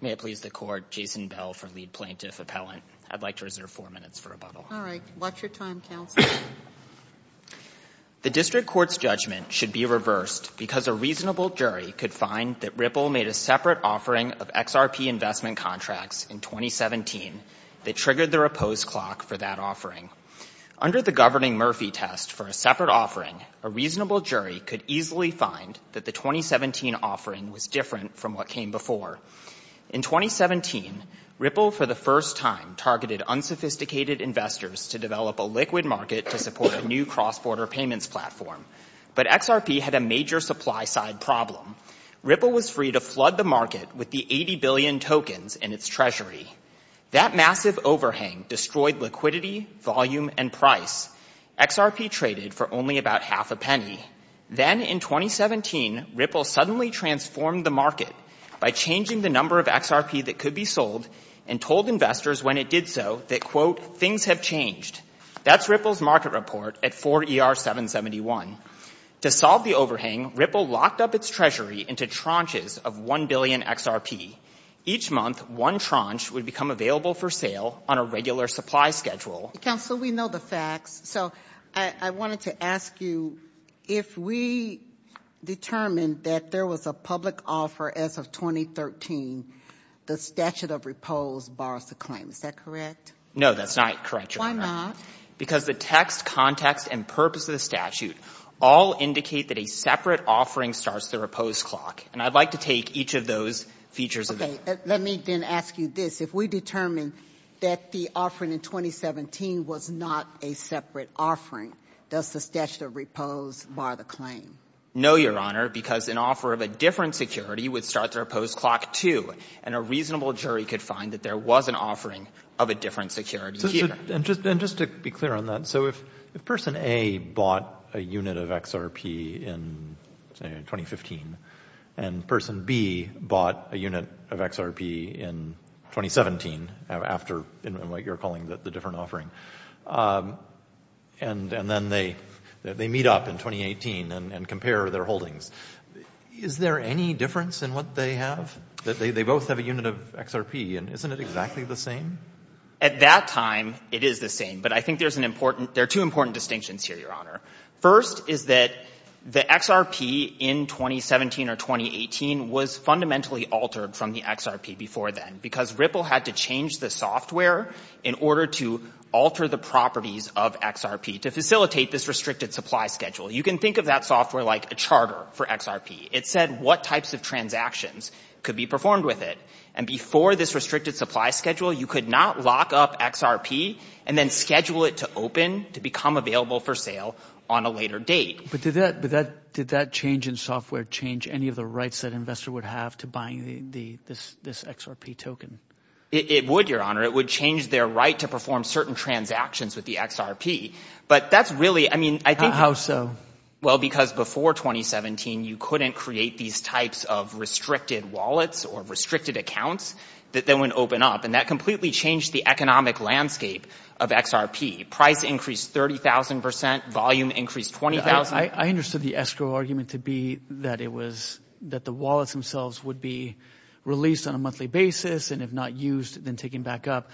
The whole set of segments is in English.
The District Court's judgment should be reversed because a reasonable jury could find that Ripple made a separate offering of XRP investment contracts in 2017 that triggered the repose clock for that offering. Under the Governing Murphy test for a separate offering, a reasonable jury could easily find that the 2017 offering was different from what came before. In 2017, Ripple for the first time targeted unsophisticated investors to develop a liquid market to support a new cross-border payments platform. But XRP had a major supply-side problem. Ripple was free to flood the market with the 80 billion tokens in its treasury. That massive overhang destroyed liquidity, volume, and price. XRP traded for only about half a penny. Then in 2017, Ripple suddenly transformed the market by changing the number of XRP that could be sold and told investors when it did so that, quote, things have changed. That's Ripple's market report at 4ER771. To solve the overhang, Ripple locked up its treasury into tranches of one billion XRP. Each month, one tranche would become available for sale on a regular supply schedule. Counsel, we know the facts. So I wanted to ask you if we determined that there was a public offer as of 2013, the statute of repose borrows the claim. Is that correct? No, that's not correct, Your Honor. Because the text, context, and purpose of the statute all indicate that a separate offering starts the repose clock. And I'd like to take each of those features of it. Let me then ask you this. If we determine that the offering in 2017 was not a separate offering, does the statute of repose borrow the claim? No, Your Honor, because an offer of a different security would start the repose clock, too. And a reasonable jury could find that there was an offering of a different security here. And just to be clear on that, so if Person A bought a unit of XRP in 2015, and Person B bought a unit of XRP in 2017, after what you're calling the different offering, and then they meet up in 2018 and compare their holdings, is there any difference in what they have? They both have a unit of XRP, and isn't it exactly the same? At that time, it is the same. But I think there are two important distinctions here, Your Honor. First is that the XRP in 2017 or 2018 was fundamentally altered from the XRP before then, because Ripple had to change the software in order to alter the properties of XRP to facilitate this restricted supply schedule. You can think of that software like a charter for XRP. It said what types of transactions could be performed with it. And before this restricted supply schedule, you could not lock up XRP and then schedule it to open to become available for sale on a later date. But did that change in software change any of the rights that an investor would have to buying this XRP token? It would, Your Honor. It would change their right to perform certain transactions with the XRP. But that's really— How so? Well, because before 2017, you couldn't create these types of restricted wallets or restricted accounts that then would open up. And that completely changed the economic landscape of XRP. Price increased 30,000 percent. Volume increased 20,000. I understood the escrow argument to be that it was—that the wallets themselves would be released on a monthly basis and if not used, then taken back up.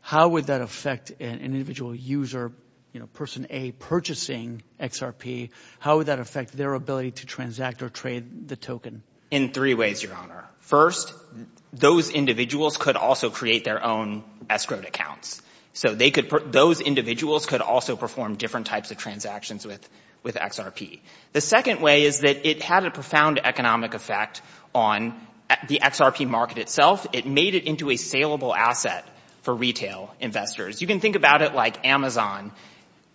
How would that affect an individual user, you know, person A purchasing XRP? How would that affect their ability to transact or trade the token? In three ways, Your Honor. First, those individuals could also create their own escrowed accounts. So they could—those individuals could also perform different types of transactions with XRP. The second way is that it had a profound economic effect on the XRP market itself. It made it into a saleable asset for retail investors. You can think about it like Amazon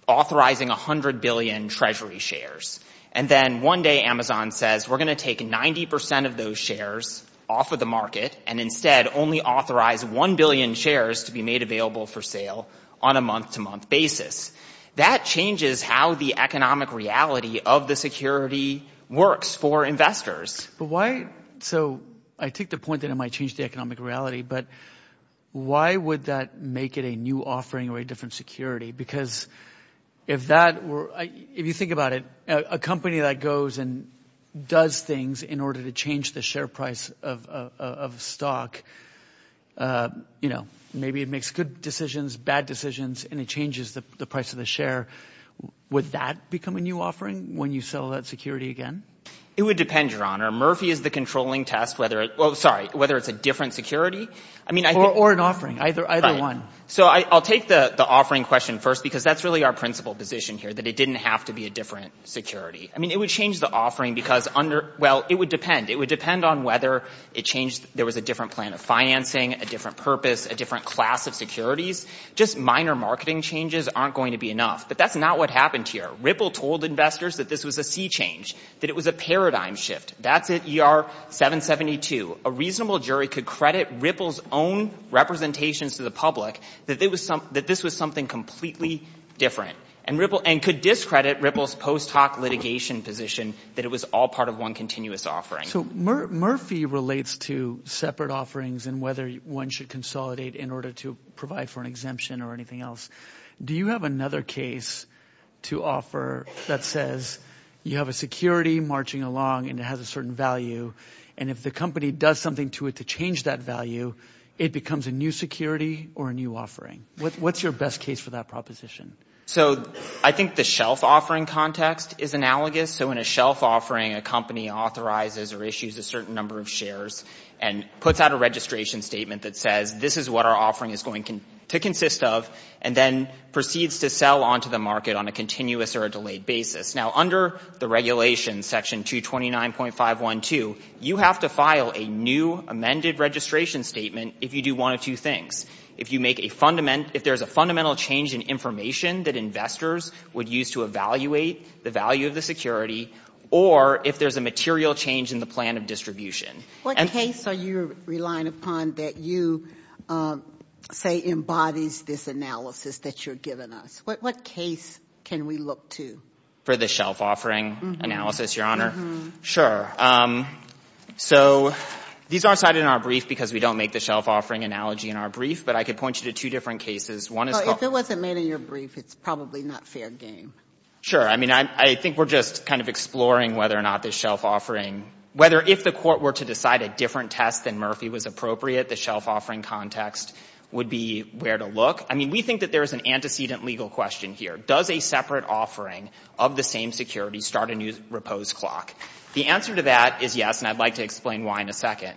authorizing 100 billion treasury shares. And then one day Amazon says, we're going to take 90 percent of those shares off of the market and instead only authorize 1 billion shares to be made available for sale on a month-to-month basis. That changes how the economic reality of the security works for investors. But why—so I take the point that it might change the economic reality, but why would that make it a new offering or a different security? Because if that were—if you think about it, a company that goes and does things in order to change the share price of stock, you know, maybe it makes good decisions, bad decisions, and it changes the price of the share. Would that become a new offering when you sell that security again? It would depend, Your Honor. Murphy is the controlling test whether—well, sorry, whether it's a different security. Or an offering, either one. So I'll take the offering question first because that's really our principal position here, that it didn't have to be a different security. I mean, it would change the offering because—well, it would depend. It would depend on whether it changed—there was a different plan of financing, a different purpose, a different class of securities. Just minor marketing changes aren't going to be enough. But that's not what happened here. Ripple told investors that this was a sea change, that it was a paradigm shift. That's at ER 772. A reasonable jury could credit Ripple's own representations to the public that this was something completely different and could discredit Ripple's post hoc litigation position that it was all part of one continuous offering. So Murphy relates to separate offerings and whether one should consolidate in order to provide for an exemption or anything else. Do you have another case to offer that says you have a security marching along and it has a certain value and if the company does something to it to change that value, it becomes a new security or a new offering? What's your best case for that proposition? So I think the shelf offering context is analogous. So in a shelf offering, a company authorizes or issues a certain number of shares and puts out a registration statement that says this is what our offering is going to consist of and then proceeds to sell onto the market on a continuous or a delayed basis. Now under the regulations, Section 229.512, you have to file a new amended registration statement if you do one of two things. If there's a fundamental change in information that investors would use to evaluate the value of the security or if there's a material change in the plan of distribution. What case are you relying upon that you say embodies this analysis that you're giving us? What case can we look to? For the shelf offering analysis, Your Honor? Uh-huh. Sure. So these aren't cited in our brief because we don't make the shelf offering analogy in our brief, but I could point you to two different cases. If it wasn't made in your brief, it's probably not fair game. Sure. I mean, I think we're just kind of exploring whether or not this shelf offering, whether if the court were to decide a different test than Murphy was appropriate, the shelf offering context would be where to look. I mean, we think that there is an antecedent legal question here. Does a separate offering of the same security start a new repose clock? The answer to that is yes, and I'd like to explain why in a second.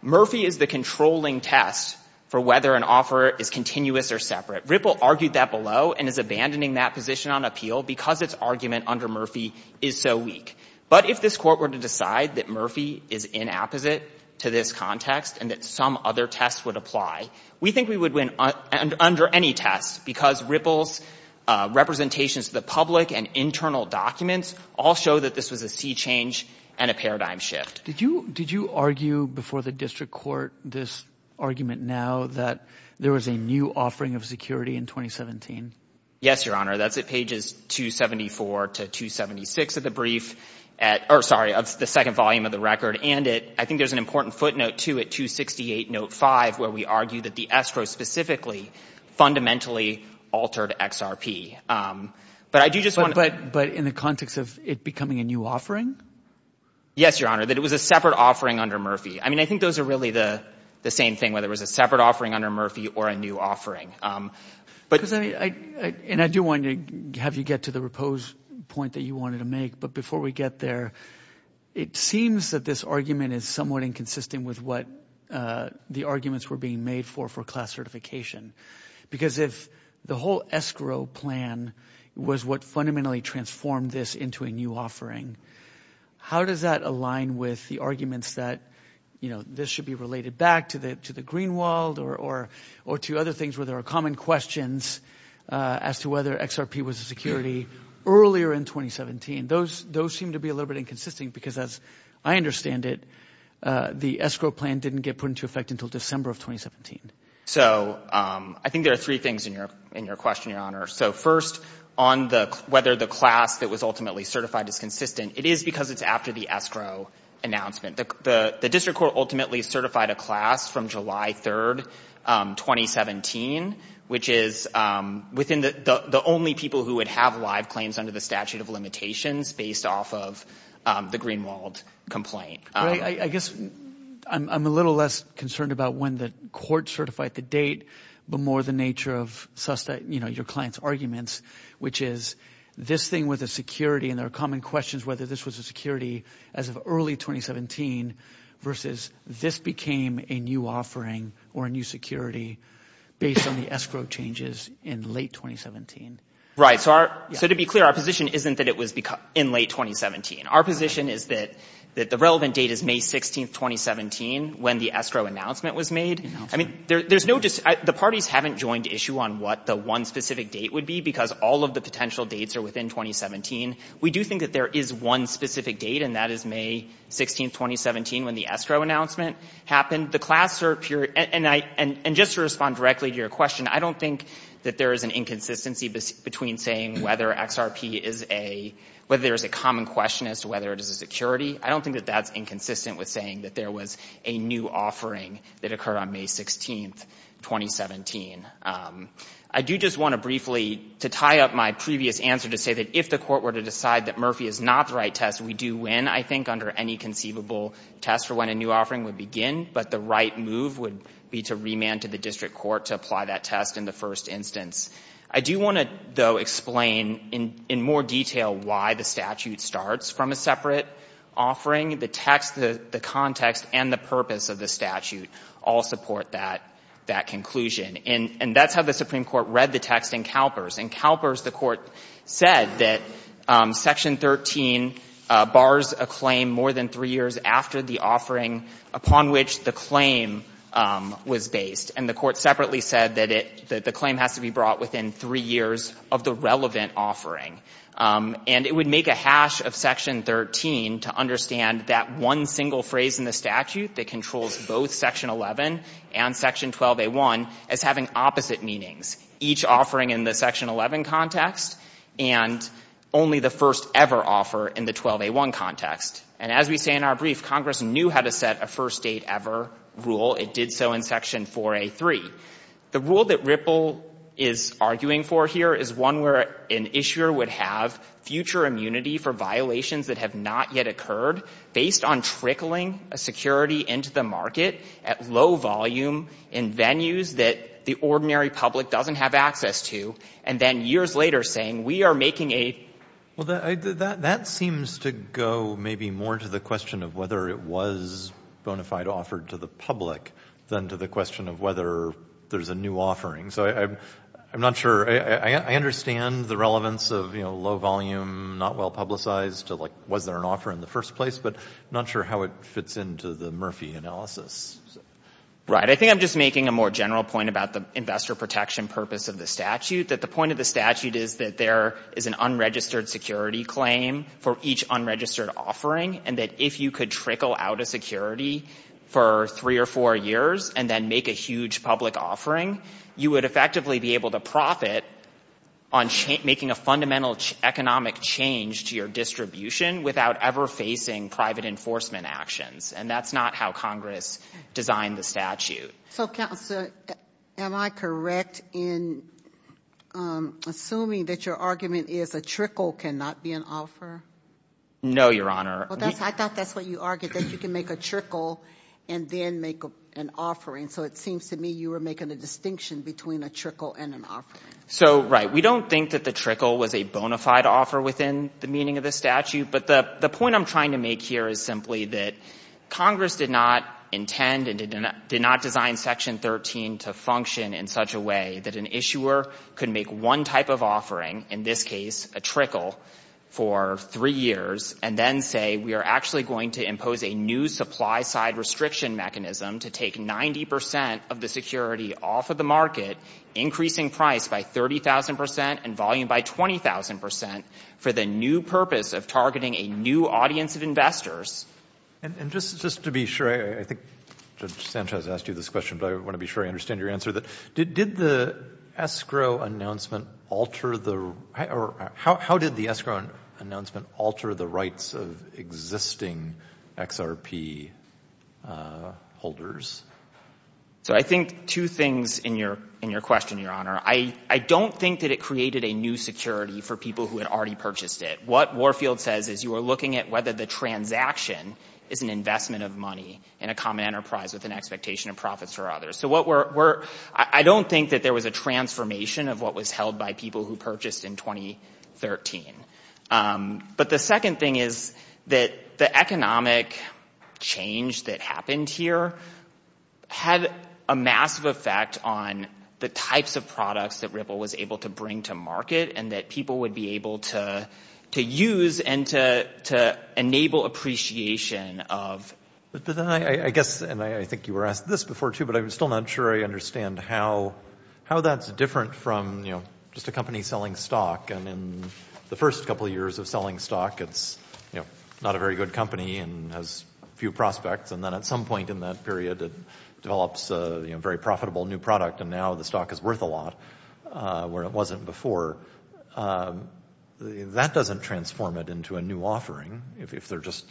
Murphy is the controlling test for whether an offer is continuous or separate. Ripple argued that below and is abandoning that position on appeal because its argument under Murphy is so weak. But if this court were to decide that Murphy is inapposite to this context and that some other test would apply, we think we would win under any test because Ripple's representations to the public and internal documents all show that this was a sea change and a paradigm shift. Did you argue before the district court this argument now that there was a new offering of security in 2017? Yes, Your Honor. That's at pages 274 to 276 of the brief at — or, sorry, of the second volume of the record. And I think there's an important footnote, too, at 268, note 5, where we argue that the escrow specifically fundamentally altered XRP. But I do just want to — But in the context of it becoming a new offering? Yes, Your Honor, that it was a separate offering under Murphy. I mean, I think those are really the same thing, whether it was a separate offering under Murphy or a new offering. And I do want to have you get to the repose point that you wanted to make. But before we get there, it seems that this argument is somewhat inconsistent with what the arguments were being made for for class certification because if the whole escrow plan was what fundamentally transformed this into a new offering, how does that align with the arguments that, you know, this should be related back to the Greenwald or to other things where there are common questions as to whether XRP was a security earlier in 2017? Those seem to be a little bit inconsistent because, as I understand it, the escrow plan didn't get put into effect until December of 2017. So I think there are three things in your question, Your Honor. So first, on whether the class that was ultimately certified is consistent, it is because it's after the escrow announcement. The district court ultimately certified a class from July 3rd, 2017, which is within the only people who would have live claims under the statute of limitations based off of the Greenwald complaint. I guess I'm a little less concerned about when the court certified the date but more the nature of your client's arguments, which is this thing with a security and there are common questions whether this was a security as of early 2017 versus this became a new offering or a new security based on the escrow changes in late 2017. Right. So to be clear, our position isn't that it was in late 2017. Our position is that the relevant date is May 16th, 2017 when the escrow announcement was made. I mean, the parties haven't joined issue on what the one specific date would be because all of the potential dates are within 2017. We do think that there is one specific date and that is May 16th, 2017 when the escrow announcement happened. The class cert period—and just to respond directly to your question, I don't think that there is an inconsistency between saying whether XRP is a— whether there is a common question as to whether it is a security. I don't think that that's inconsistent with saying that there was a new offering that occurred on May 16th, 2017. I do just want to briefly, to tie up my previous answer, to say that if the Court were to decide that Murphy is not the right test, we do win, I think, under any conceivable test for when a new offering would begin, but the right move would be to remand to the district court to apply that test in the first instance. I do want to, though, explain in more detail why the statute starts from a separate offering. The text, the context, and the purpose of the statute all support that conclusion. And that's how the Supreme Court read the text in CalPERS. In CalPERS, the Court said that Section 13 bars a claim more than three years after the offering upon which the claim was based. And the Court separately said that the claim has to be brought within three years of the relevant offering. And it would make a hash of Section 13 to understand that one single phrase in the statute that controls both Section 11 and Section 12A1 as having opposite meanings, each offering in the Section 11 context and only the first-ever offer in the 12A1 context. And as we say in our brief, Congress knew how to set a first-date-ever rule. It did so in Section 4A3. The rule that Ripple is arguing for here is one where an issuer would have future immunity for violations that have not yet occurred based on trickling a security into the market at low volume in venues that the ordinary public doesn't have access to, and then years later saying, we are making a... Well, that seems to go maybe more to the question of whether it was bona fide offered to the public than to the question of whether there's a new offering. So I'm not sure. I understand the relevance of low volume, not well publicized, to like was there an offer in the first place, but I'm not sure how it fits into the Murphy analysis. Right. I think I'm just making a more general point about the investor protection purpose of the statute, that the point of the statute is that there is an unregistered security claim for each unregistered offering, and that if you could trickle out a security for three or four years and then make a huge public offering, you would effectively be able to profit on making a fundamental economic change to your distribution without ever facing private enforcement actions, and that's not how Congress designed the statute. So, Counselor, am I correct in assuming that your argument is a trickle cannot be an offer? No, Your Honor. I thought that's what you argued, that you can make a trickle and then make an offering. So it seems to me you were making a distinction between a trickle and an offering. So, right. We don't think that the trickle was a bona fide offer within the meaning of the statute, but the point I'm trying to make here is simply that Congress did not intend and did not design Section 13 to function in such a way that an issuer could make one type of offering, in this case a trickle, for three years and then say we are actually going to impose a new supply-side restriction mechanism to take 90 percent of the security off of the market, increasing price by 30,000 percent and volume by 20,000 percent for the new purpose of targeting a new audience of investors. And just to be sure, I think Judge Sanchez asked you this question, but I want to be sure I understand your answer. Did the escrow announcement alter the rights of existing XRP holders? So I think two things in your question, Your Honor. I don't think that it created a new security for people who had already purchased it. What Warfield says is you are looking at whether the transaction is an investment of money in a common enterprise with an expectation of profits for others. So I don't think that there was a transformation of what was held by people who purchased in 2013. But the second thing is that the economic change that happened here had a massive effect on the types of products that Ripple was able to bring to market and that people would be able to use and to enable appreciation of. But then I guess, and I think you were asked this before too, but I'm still not sure I understand how that's different from just a company selling stock. And in the first couple of years of selling stock, it's not a very good company and has few prospects. And then at some point in that period, it develops a very profitable new product, and now the stock is worth a lot where it wasn't before. That doesn't transform it into a new offering if they're just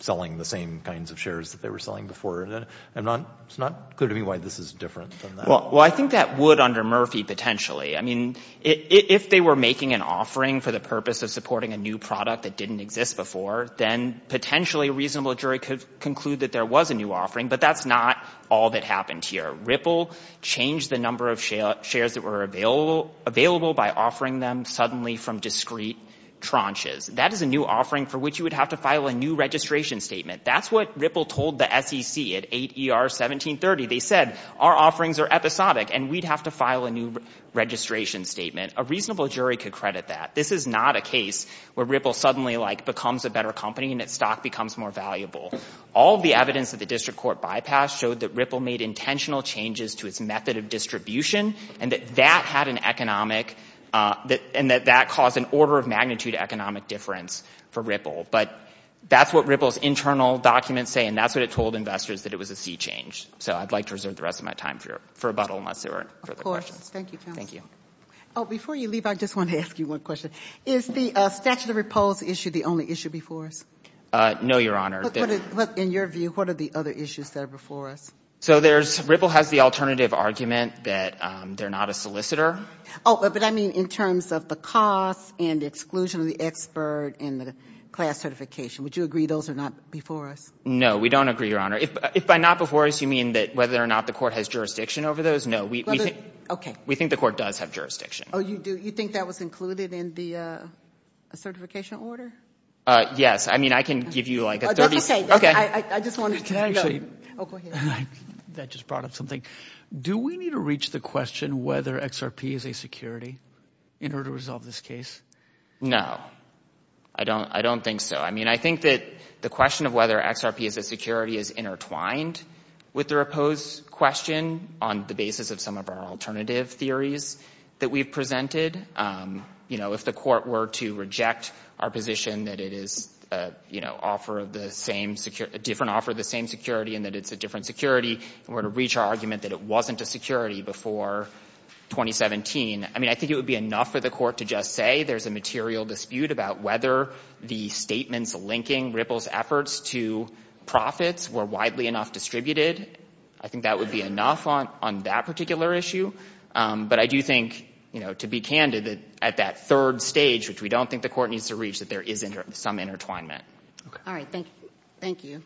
selling the same kinds of shares that they were selling before. It's not clear to me why this is different than that. Well, I think that would under Murphy potentially. I mean, if they were making an offering for the purpose of supporting a new product that didn't exist before, then potentially a reasonable jury could conclude that there was a new offering, but that's not all that happened here. Ripple changed the number of shares that were available by offering them suddenly from discrete tranches. That is a new offering for which you would have to file a new registration statement. That's what Ripple told the SEC at 8 ER 1730. They said, our offerings are episodic, and we'd have to file a new registration statement. A reasonable jury could credit that. This is not a case where Ripple suddenly, like, becomes a better company and its stock becomes more valuable. All the evidence that the district court bypassed showed that Ripple made intentional changes to its method of distribution and that that caused an order of magnitude economic difference for Ripple. But that's what Ripple's internal documents say, and that's what it told investors, that it was a sea change. So I'd like to reserve the rest of my time for rebuttal unless there are further questions. Of course. Thank you, counsel. Thank you. Before you leave, I just want to ask you one question. Is the statute of repose issue the only issue before us? No, Your Honor. In your view, what are the other issues that are before us? So Ripple has the alternative argument that they're not a solicitor. Oh, but I mean in terms of the cost and the exclusion of the expert and the class certification. Would you agree those are not before us? No, we don't agree, Your Honor. If by not before us, you mean that whether or not the court has jurisdiction over those? No. Okay. We think the court does have jurisdiction. Oh, you do? You think that was included in the certification order? Yes. I mean, I can give you like a 30- That's okay. Okay. I just wanted to know. Oh, go ahead. That just brought up something. Do we need to reach the question whether XRP is a security in order to resolve this case? No. I don't think so. I mean, I think that the question of whether XRP is a security is intertwined with the repose question on the basis of some of our alternative theories that we've presented. You know, if the court were to reject our position that it is a, you know, offer of the same, a different offer of the same security and that it's a different security and were to reach our argument that it wasn't a security before 2017, I mean, I think it would be enough for the court to just say there's a material dispute about whether the statements linking Ripple's efforts to profits were widely enough distributed. I think that would be enough on that particular issue. But I do think, you know, to be candid, that at that third stage, which we don't think the court needs to reach, that there is some intertwinement. All right. Thank you.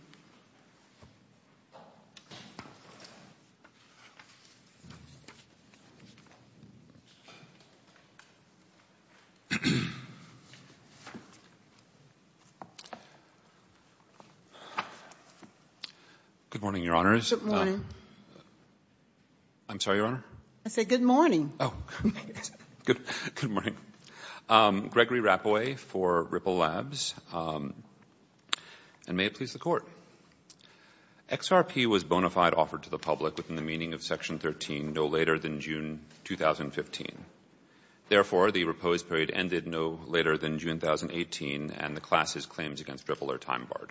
Good morning, Your Honors. Good morning. I'm sorry, Your Honor. I said good morning. Oh. Good morning. Gregory Rappoe for Ripple Labs. And may it please the Court. XRP was bona fide offered to the public within the meaning of Section 13 no later than June 2015. Therefore, the repose period ended no later than June 2018 and the class's claims against Ripple are time barred.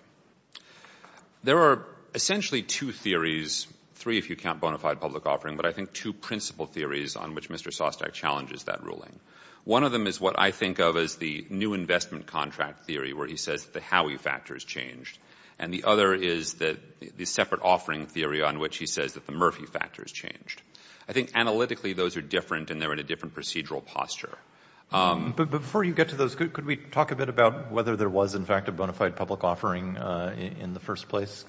There are essentially two theories, three if you count bona fide public offering, but I think two principal theories on which Mr. Sostak challenges that ruling. One of them is what I think of as the new investment contract theory where he says the Howey factor has changed. And the other is the separate offering theory on which he says that the Murphy factor has changed. I think analytically those are different and they're in a different procedural posture. But before you get to those, could we talk a bit about whether there was, in fact, a bona fide public offering in the first place?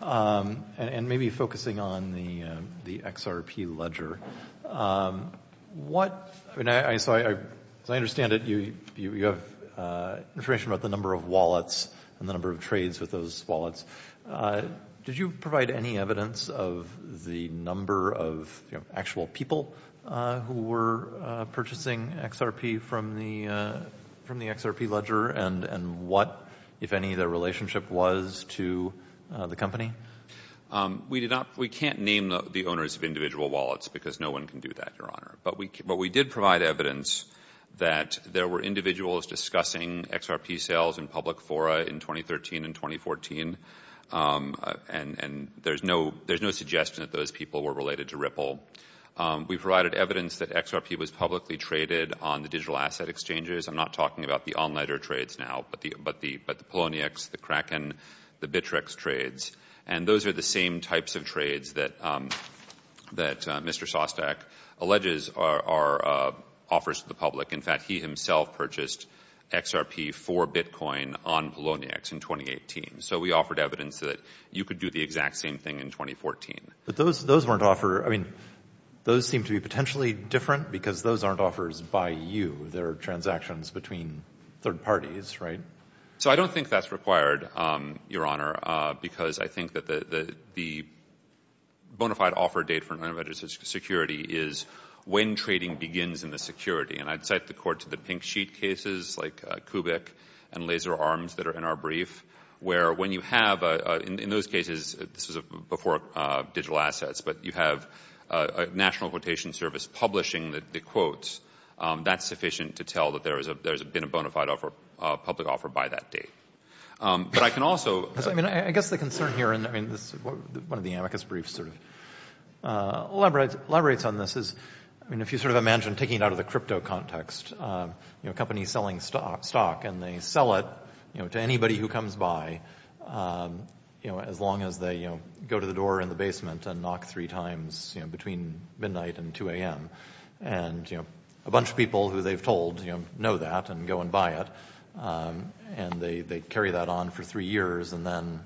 And maybe focusing on the XRP ledger. As I understand it, you have information about the number of wallets and the number of trades with those wallets. Did you provide any evidence of the number of actual people who were purchasing XRP from the XRP ledger and what, if any, their relationship was to the company? We can't name the owners of individual wallets because no one can do that, Your Honor. But we did provide evidence that there were individuals discussing XRP sales in public fora in 2013 and 2014. And there's no suggestion that those people were related to Ripple. We provided evidence that XRP was publicly traded on the digital asset exchanges. I'm not talking about the on-ledger trades now, but the Poloniex, the Kraken, the Bittrex trades. And those are the same types of trades that Mr. Sostak alleges are offers to the public. In fact, he himself purchased XRP for Bitcoin on Poloniex in 2018. So we offered evidence that you could do the exact same thing in 2014. But those weren't offers. I mean, those seem to be potentially different because those aren't offers by you. They're transactions between third parties, right? So I don't think that's required, Your Honor, because I think that the bona fide offer date for an unregistered security is when trading begins in the security. And I'd cite the court to the pink sheet cases like Kubik and Laser Arms that are in our brief, where when you have, in those cases, this was before digital assets, but you have a national quotation service publishing the quotes, that's sufficient to tell that there's been a bona fide public offer by that date. But I can also— I guess the concern here, and one of the amicus briefs sort of elaborates on this, is if you sort of imagine taking it out of the crypto context, a company selling stock and they sell it to anybody who comes by, as long as they go to the door in the basement and knock three times between midnight and 2 a.m. and a bunch of people who they've told know that and go and buy it, and they carry that on for three years, and then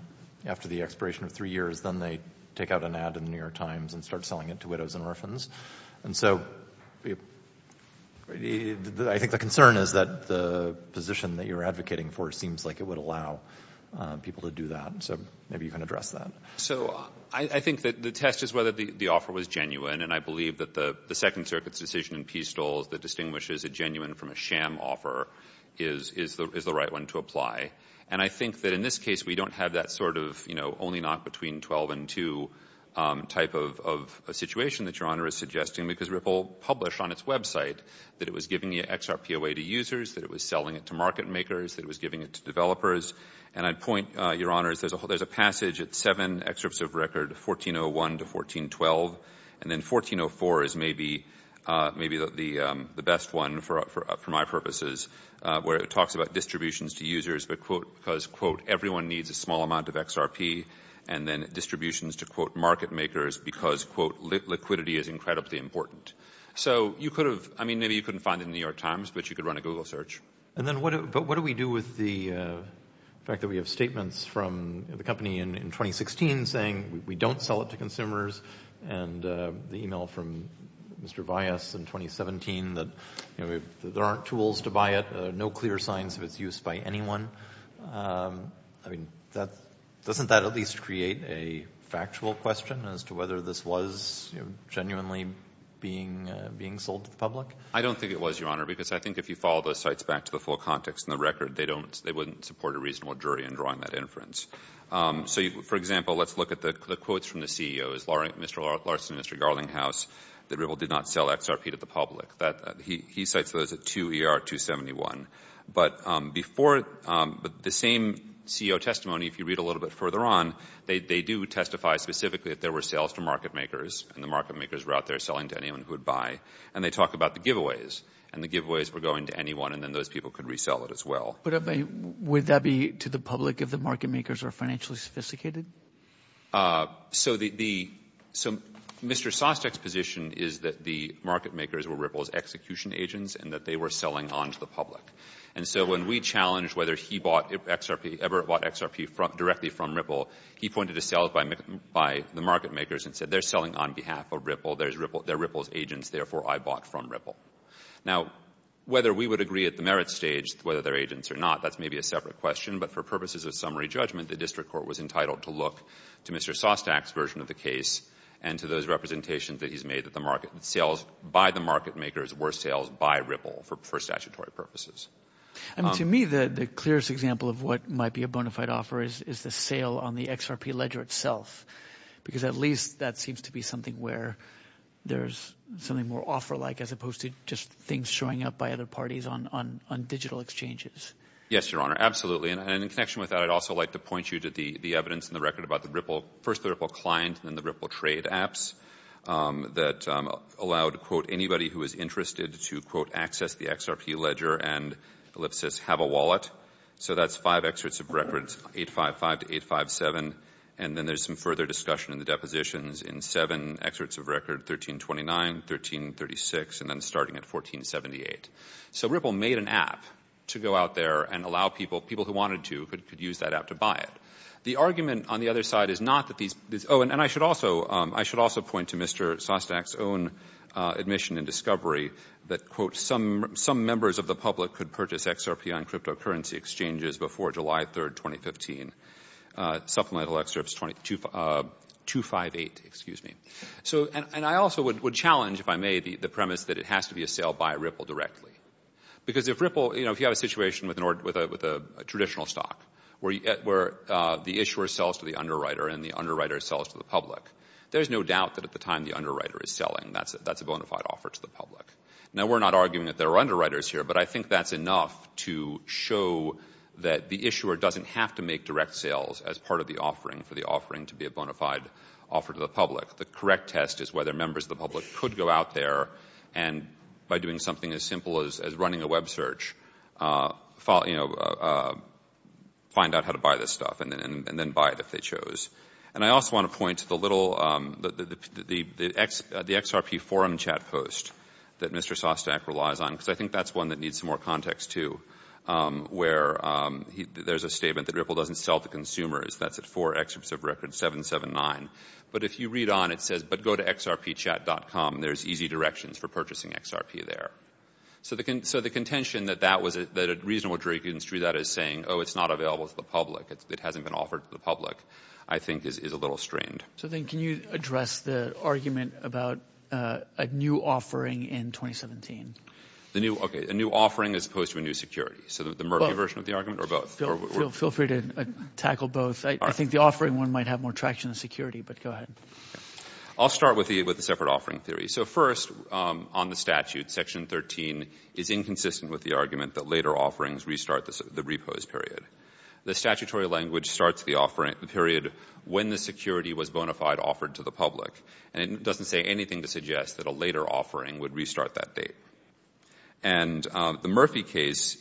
after the expiration of three years, then they take out an ad in the New York Times and start selling it to widows and orphans. And so I think the concern is that the position that you're advocating for seems like it would allow people to do that. So maybe you can address that. So I think that the test is whether the offer was genuine, and I believe that the Second Circuit's decision in Peastole that distinguishes a genuine from a sham offer is the right one to apply. And I think that in this case we don't have that sort of, you know, only knock between 12 and 2 type of situation that Your Honor is suggesting because Ripple published on its website that it was giving the XRP away to users, that it was selling it to market makers, that it was giving it to developers. And I'd point, Your Honors, there's a passage at 7 excerpts of record, 1401 to 1412, and then 1404 is maybe the best one for my purposes where it talks about distributions to users because, quote, everyone needs a small amount of XRP, and then distributions to, quote, market makers because, quote, liquidity is incredibly important. So you could have, I mean, maybe you couldn't find it in the New York Times, but you could run a Google search. And then what do we do with the fact that we have statements from the company in 2016 saying we don't sell it to consumers and the e-mail from Mr. Bias in 2017 that, you know, there aren't tools to buy it, no clear signs of its use by anyone? I mean, doesn't that at least create a factual question as to whether this was genuinely being sold to the public? I don't think it was, Your Honor, because I think if you follow those sites back to the full context in the record, they wouldn't support a reasonable jury in drawing that inference. So, for example, let's look at the quotes from the CEOs, Mr. Larson and Mr. Garlinghouse, that Ripple did not sell XRP to the public. He cites those at 2ER271. But the same CEO testimony, if you read a little bit further on, they do testify specifically that there were sales to market makers, and the market makers were out there selling to anyone who would buy, and they talk about the giveaways, and the giveaways were going to anyone, and then those people could resell it as well. But would that be to the public if the market makers are financially sophisticated? So Mr. Sostek's position is that the market makers were Ripple's execution agents and that they were selling onto the public. And so when we challenged whether he ever bought XRP directly from Ripple, he pointed to sales by the market makers and said they're selling on behalf of Ripple, they're Ripple's agents, therefore I bought from Ripple. Now, whether we would agree at the merit stage whether they're agents or not, that's maybe a separate question, but for purposes of summary judgment, the district court was entitled to look to Mr. Sostek's version of the case and to those representations that he's made that the sales by the market makers were sales by Ripple for statutory purposes. To me, the clearest example of what might be a bona fide offer is the sale on the XRP ledger itself, because at least that seems to be something where there's something more offer-like as opposed to just things showing up by other parties on digital exchanges. Yes, Your Honor, absolutely. And in connection with that, I'd also like to point you to the evidence in the record about first the Ripple client and then the Ripple trade apps that allowed, quote, anybody who was interested to, quote, access the XRP ledger and ellipsis have a wallet. So that's five excerpts of records 855 to 857, and then there's some further discussion in the depositions in seven excerpts of record 1329, 1336, and then starting at 1478. So Ripple made an app to go out there and allow people, people who wanted to could use that app to buy it. The argument on the other side is not that these – oh, and I should also point to Mr. Sostek's own admission and discovery that, quote, some members of the public could purchase XRP on cryptocurrency exchanges before July 3, 2015. Supplemental excerpts 258, excuse me. And I also would challenge, if I may, the premise that it has to be a sale by Ripple directly. Because if Ripple – you know, if you have a situation with a traditional stock where the issuer sells to the underwriter and the underwriter sells to the public, there's no doubt that at the time the underwriter is selling, that's a bona fide offer to the public. Now, we're not arguing that there are underwriters here, but I think that's enough to show that the issuer doesn't have to make direct sales as part of the offering for the offering to be a bona fide offer to the public. The correct test is whether members of the public could go out there and by doing something as simple as running a web search, you know, find out how to buy this stuff and then buy it if they chose. And I also want to point to the little – the XRP forum chat post that Mr. Sostek relies on because I think that's one that needs some more context, too, where there's a statement that Ripple doesn't sell to consumers. That's at 4 excerpts of record 779. But if you read on, it says, but go to xrpchat.com. There's easy directions for purchasing XRP there. So the contention that that was – that a reasonable jury could instrue that as saying, oh, it's not available to the public, it hasn't been offered to the public, I think is a little strained. So then can you address the argument about a new offering in 2017? The new – okay, a new offering as opposed to a new security. So the Murphy version of the argument or both? Feel free to tackle both. I think the offering one might have more traction than security, but go ahead. I'll start with the separate offering theory. So first, on the statute, Section 13 is inconsistent with the argument that later offerings restart the repose period. The statutory language starts the period when the security was bona fide offered to the public, and it doesn't say anything to suggest that a later offering would restart that date. And the Murphy case,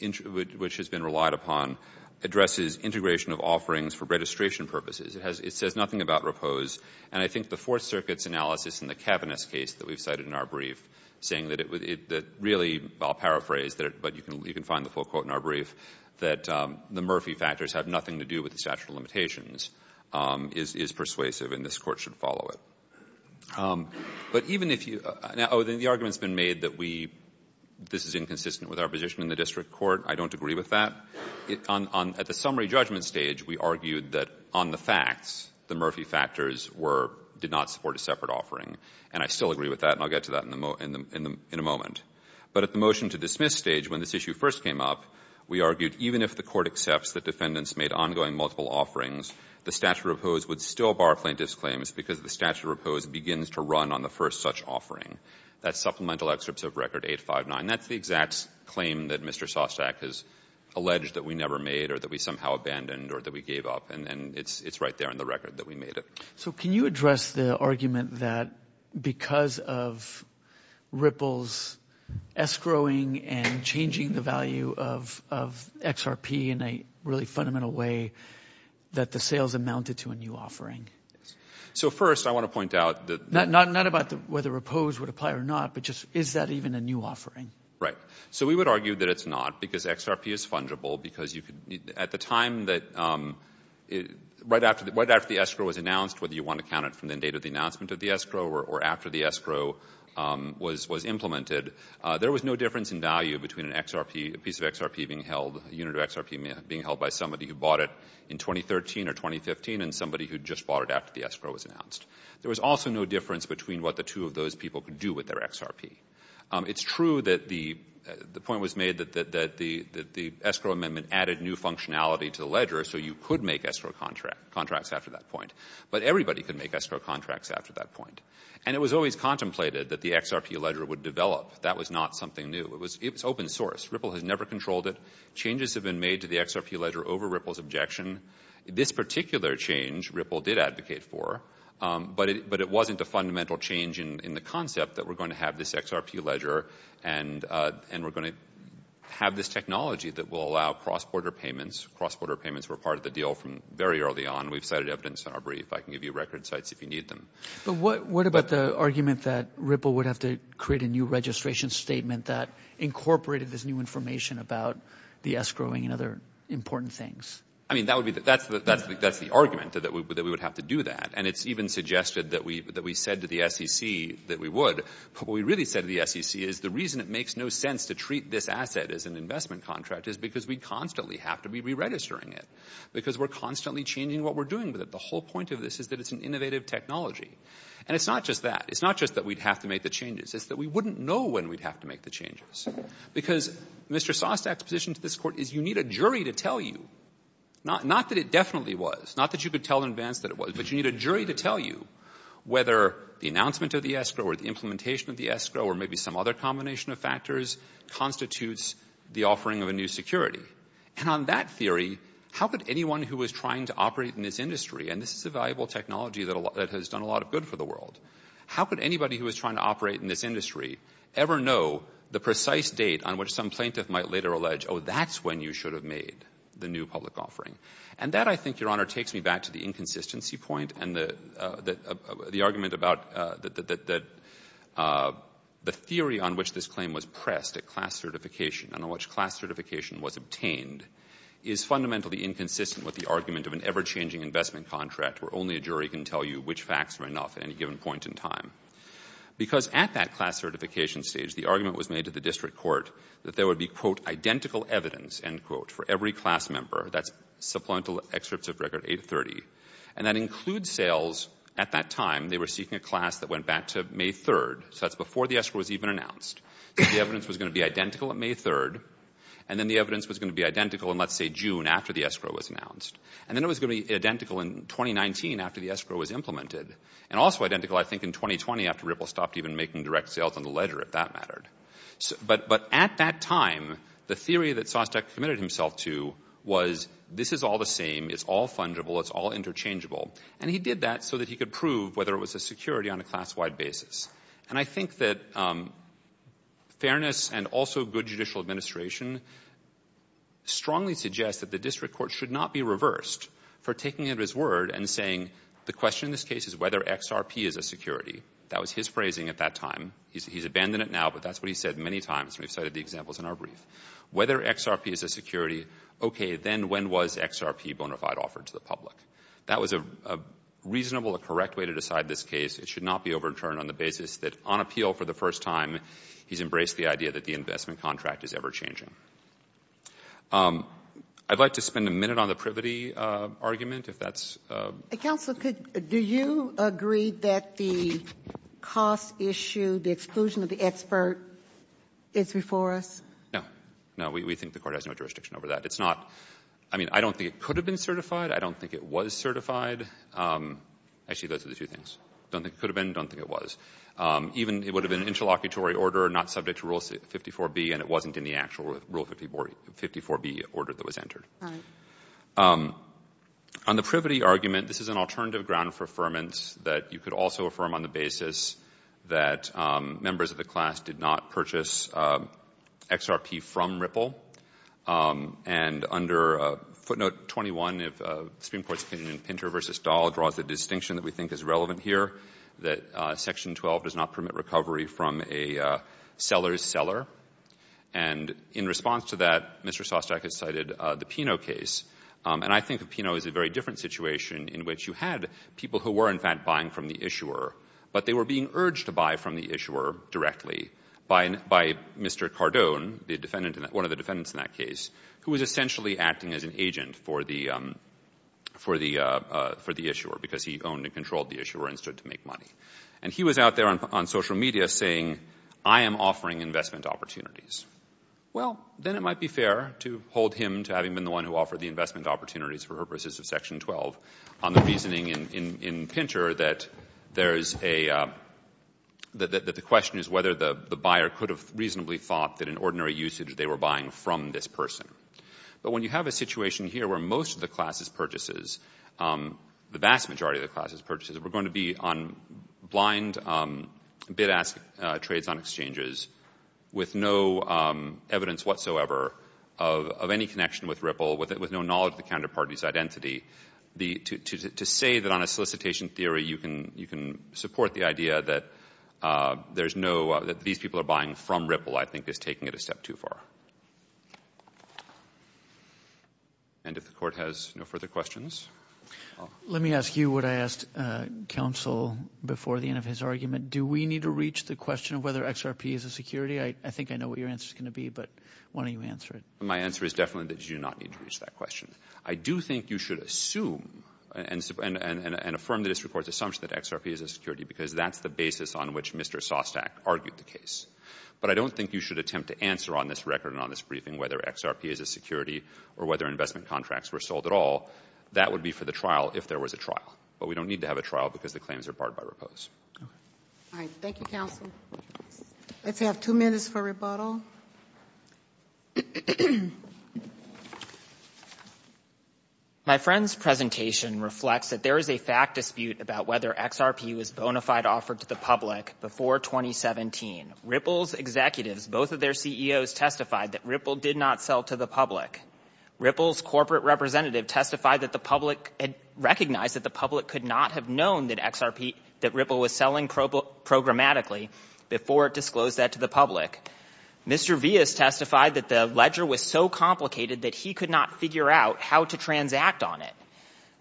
which has been relied upon, addresses integration of offerings for registration purposes. It says nothing about repose, and I think the Fourth Circuit's analysis in the Kavanagh's case that we've cited in our brief, saying that it really – I'll paraphrase, but you can find the full quote in our brief – that the Murphy factors have nothing to do with the statute of limitations is persuasive, and this Court should follow it. But even if you – oh, then the argument's been made that we – this is inconsistent with our position in the district court. I don't agree with that. At the summary judgment stage, we argued that on the facts, the Murphy factors were – did not support a separate offering, and I still agree with that, and I'll get to that in a moment. But at the motion-to-dismiss stage, when this issue first came up, we argued even if the Court accepts that defendants made ongoing multiple offerings, the statute of repose would still bar plaintiffs' claims because the statute of repose begins to run on the first such offering. That's supplemental excerpts of Record 859. That's the exact claim that Mr. Sostak has alleged that we never made or that we somehow abandoned or that we gave up, and it's right there in the record that we made it. So can you address the argument that because of Ripple's escrowing and changing the value of XRP in a really fundamental way that the sales amounted to a new offering? So first I want to point out that – Not about whether repose would apply or not, but just is that even a new offering? Right. So we would argue that it's not because XRP is fungible because you could – At the time that – right after the escrow was announced, whether you want to count it from the date of the announcement of the escrow or after the escrow was implemented, there was no difference in value between a piece of XRP being held, a unit of XRP being held by somebody who bought it in 2013 or 2015 and somebody who just bought it after the escrow was announced. There was also no difference between what the two of those people could do with their XRP. It's true that the point was made that the escrow amendment added new functionality to the ledger so you could make escrow contracts after that point, but everybody could make escrow contracts after that point. And it was always contemplated that the XRP ledger would develop. That was not something new. It was open source. Ripple has never controlled it. Changes have been made to the XRP ledger over Ripple's objection. This particular change Ripple did advocate for, but it wasn't a fundamental change in the concept that we're going to have this XRP ledger and we're going to have this technology that will allow cross-border payments. Cross-border payments were part of the deal from very early on. We've cited evidence in our brief. I can give you record sites if you need them. But what about the argument that Ripple would have to create a new registration statement that incorporated this new information about the escrowing and other important things? I mean, that's the argument, that we would have to do that. And it's even suggested that we said to the SEC that we would. But what we really said to the SEC is the reason it makes no sense to treat this asset as an investment contract is because we constantly have to be re-registering it because we're constantly changing what we're doing with it. The whole point of this is that it's an innovative technology. And it's not just that. It's not just that we'd have to make the changes. It's that we wouldn't know when we'd have to make the changes because Mr. Sostak's position to this court is you need a jury to tell you, not that it definitely was, not that you could tell in advance that it was, but you need a jury to tell you whether the announcement of the escrow or the implementation of the escrow or maybe some other combination of factors constitutes the offering of a new security. And on that theory, how could anyone who was trying to operate in this industry, and this is a valuable technology that has done a lot of good for the world, how could anybody who was trying to operate in this industry ever know the precise date on which some plaintiff might later allege, oh, that's when you should have made the new public offering? And that, I think, Your Honor, takes me back to the inconsistency point and the argument about the theory on which this claim was pressed at class certification and on which class certification was obtained is fundamentally inconsistent with the argument of an ever-changing investment contract where only a jury can tell you which facts are enough at any given point in time. Because at that class certification stage, the argument was made to the district court that there would be, quote, identical evidence, end quote, for every class member, that's supplemental excerpts of Record 830. And that includes sales. At that time, they were seeking a class that went back to May 3rd, so that's before the escrow was even announced. The evidence was going to be identical at May 3rd, and then the evidence was going to be identical in, let's say, June, after the escrow was announced. And then it was going to be identical in 2019 after the escrow was implemented and also identical, I think, in 2020 after Ripple stopped even making direct sales on the ledger, if that mattered. But at that time, the theory that Sostek committed himself to was this is all the same, it's all fungible, it's all interchangeable. And he did that so that he could prove whether it was a security on a class-wide basis. And I think that fairness and also good judicial administration strongly suggests that the district court should not be reversed for taking his word and saying the question in this case is whether XRP is a security. That was his phrasing at that time. He's abandoned it now, but that's what he's said many times. We've cited the examples in our brief. Whether XRP is a security, okay, then when was XRP bona fide offered to the public? That was a reasonable, a correct way to decide this case. It should not be overturned on the basis that on appeal for the first time, he's embraced the idea that the investment contract is ever-changing. I'd like to spend a minute on the privity argument, if that's... Counsel, do you agree that the cost issue, the exclusion of the expert, is before us? No. No, we think the court has no jurisdiction over that. It's not, I mean, I don't think it could have been certified. I don't think it was certified. Actually, those are the two things. Don't think it could have been, don't think it was. Even it would have been an interlocutory order, not subject to Rule 54B, and it wasn't in the actual Rule 54B order that was entered. Right. On the privity argument, this is an alternative ground for affirmance that you could also affirm on the basis that members of the class did not purchase XRP from Ripple. And under footnote 21 of Supreme Court's opinion in Pinter v. Dahl draws the distinction that we think is relevant here, that Section 12 does not permit recovery from a seller's seller. And in response to that, Mr. Sostack has cited the Pino case. And I think that Pino is a very different situation in which you had people who were, in fact, buying from the issuer, but they were being urged to buy from the issuer directly by Mr. Cardone, one of the defendants in that case, who was essentially acting as an agent for the issuer because he owned and controlled the issuer and stood to make money. And he was out there on social media saying, I am offering investment opportunities. Well, then it might be fair to hold him to having been the one who offered the investment opportunities for purposes of Section 12 on the reasoning in Pinter that the question is whether the buyer could have reasonably thought that in ordinary usage they were buying from this person. But when you have a situation here where most of the class's purchases, the vast majority of the class's purchases were going to be on blind bid-ask trades on exchanges with no evidence whatsoever of any connection with Ripple, with no knowledge of the counterparty's identity, to say that on a solicitation theory you can support the idea that these people are buying from Ripple, I think is taking it a step too far. And if the Court has no further questions. Let me ask you what I asked counsel before the end of his argument. Do we need to reach the question of whether XRP is a security? I think I know what your answer is going to be, but why don't you answer it. My answer is definitely that you do not need to reach that question. I do think you should assume and affirm the district court's assumption that XRP is a security because that's the basis on which Mr. Sostak argued the case. But I don't think you should attempt to answer on this record and on this briefing whether XRP is a security or whether investment contracts were sold at all. That would be for the trial if there was a trial. But we don't need to have a trial because the claims are barred by Ripple. All right. Thank you, counsel. Let's have two minutes for rebuttal. My friend's presentation reflects that there is a fact dispute about whether XRP was bona fide offered to the public before 2017. Ripple's executives, both of their CEOs, testified that Ripple did not sell to the public. Ripple's corporate representative testified that the public had recognized that the public could not have known that XRP, that Ripple was selling programmatically before it disclosed that to the public. Mr. Villas testified that the ledger was so complicated that he could not figure out how to transact on it.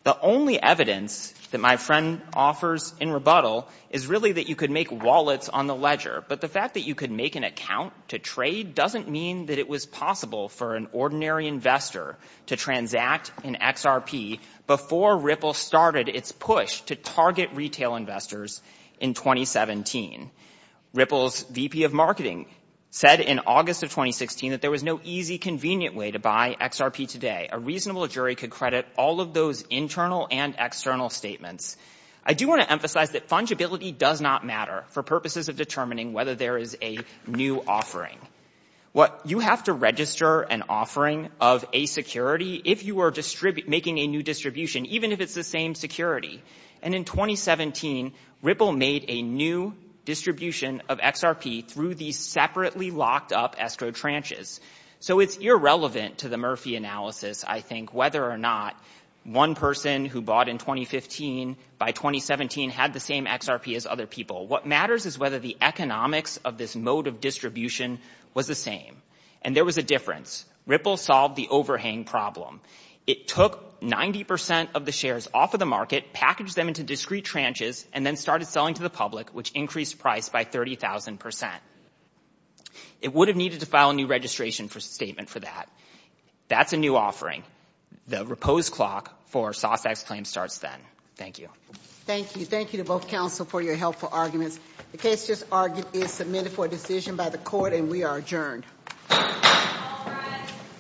The only evidence that my friend offers in rebuttal is really that you could make wallets on the ledger. But the fact that you could make an account to trade doesn't mean that it was possible for an ordinary investor to transact in XRP before Ripple started its push to target retail investors in 2017. Ripple's VP of marketing said in August of 2016 that there was no easy, convenient way to buy XRP today. A reasonable jury could credit all of those internal and external statements. I do want to emphasize that fungibility does not matter for purposes of determining whether there is a new offering. You have to register an offering of a security if you are making a new distribution, even if it's the same security. And in 2017, Ripple made a new distribution of XRP through these separately locked up escrow tranches. So it's irrelevant to the Murphy analysis, I think, whether or not one person who bought in 2015 by 2017 had the same XRP as other people. What matters is whether the economics of this mode of distribution was the same. And there was a difference. Ripple solved the overhang problem. It took 90 percent of the shares off of the market, packaged them into discrete tranches, and then started selling to the public, which increased price by 30,000 percent. It would have needed to file a new registration statement for that. That's a new offering. The repose clock for SOSX claims starts then. Thank you. Thank you. Thank you to both counsel for your helpful arguments. The case just argued is submitted for decision by the court, and we are adjourned.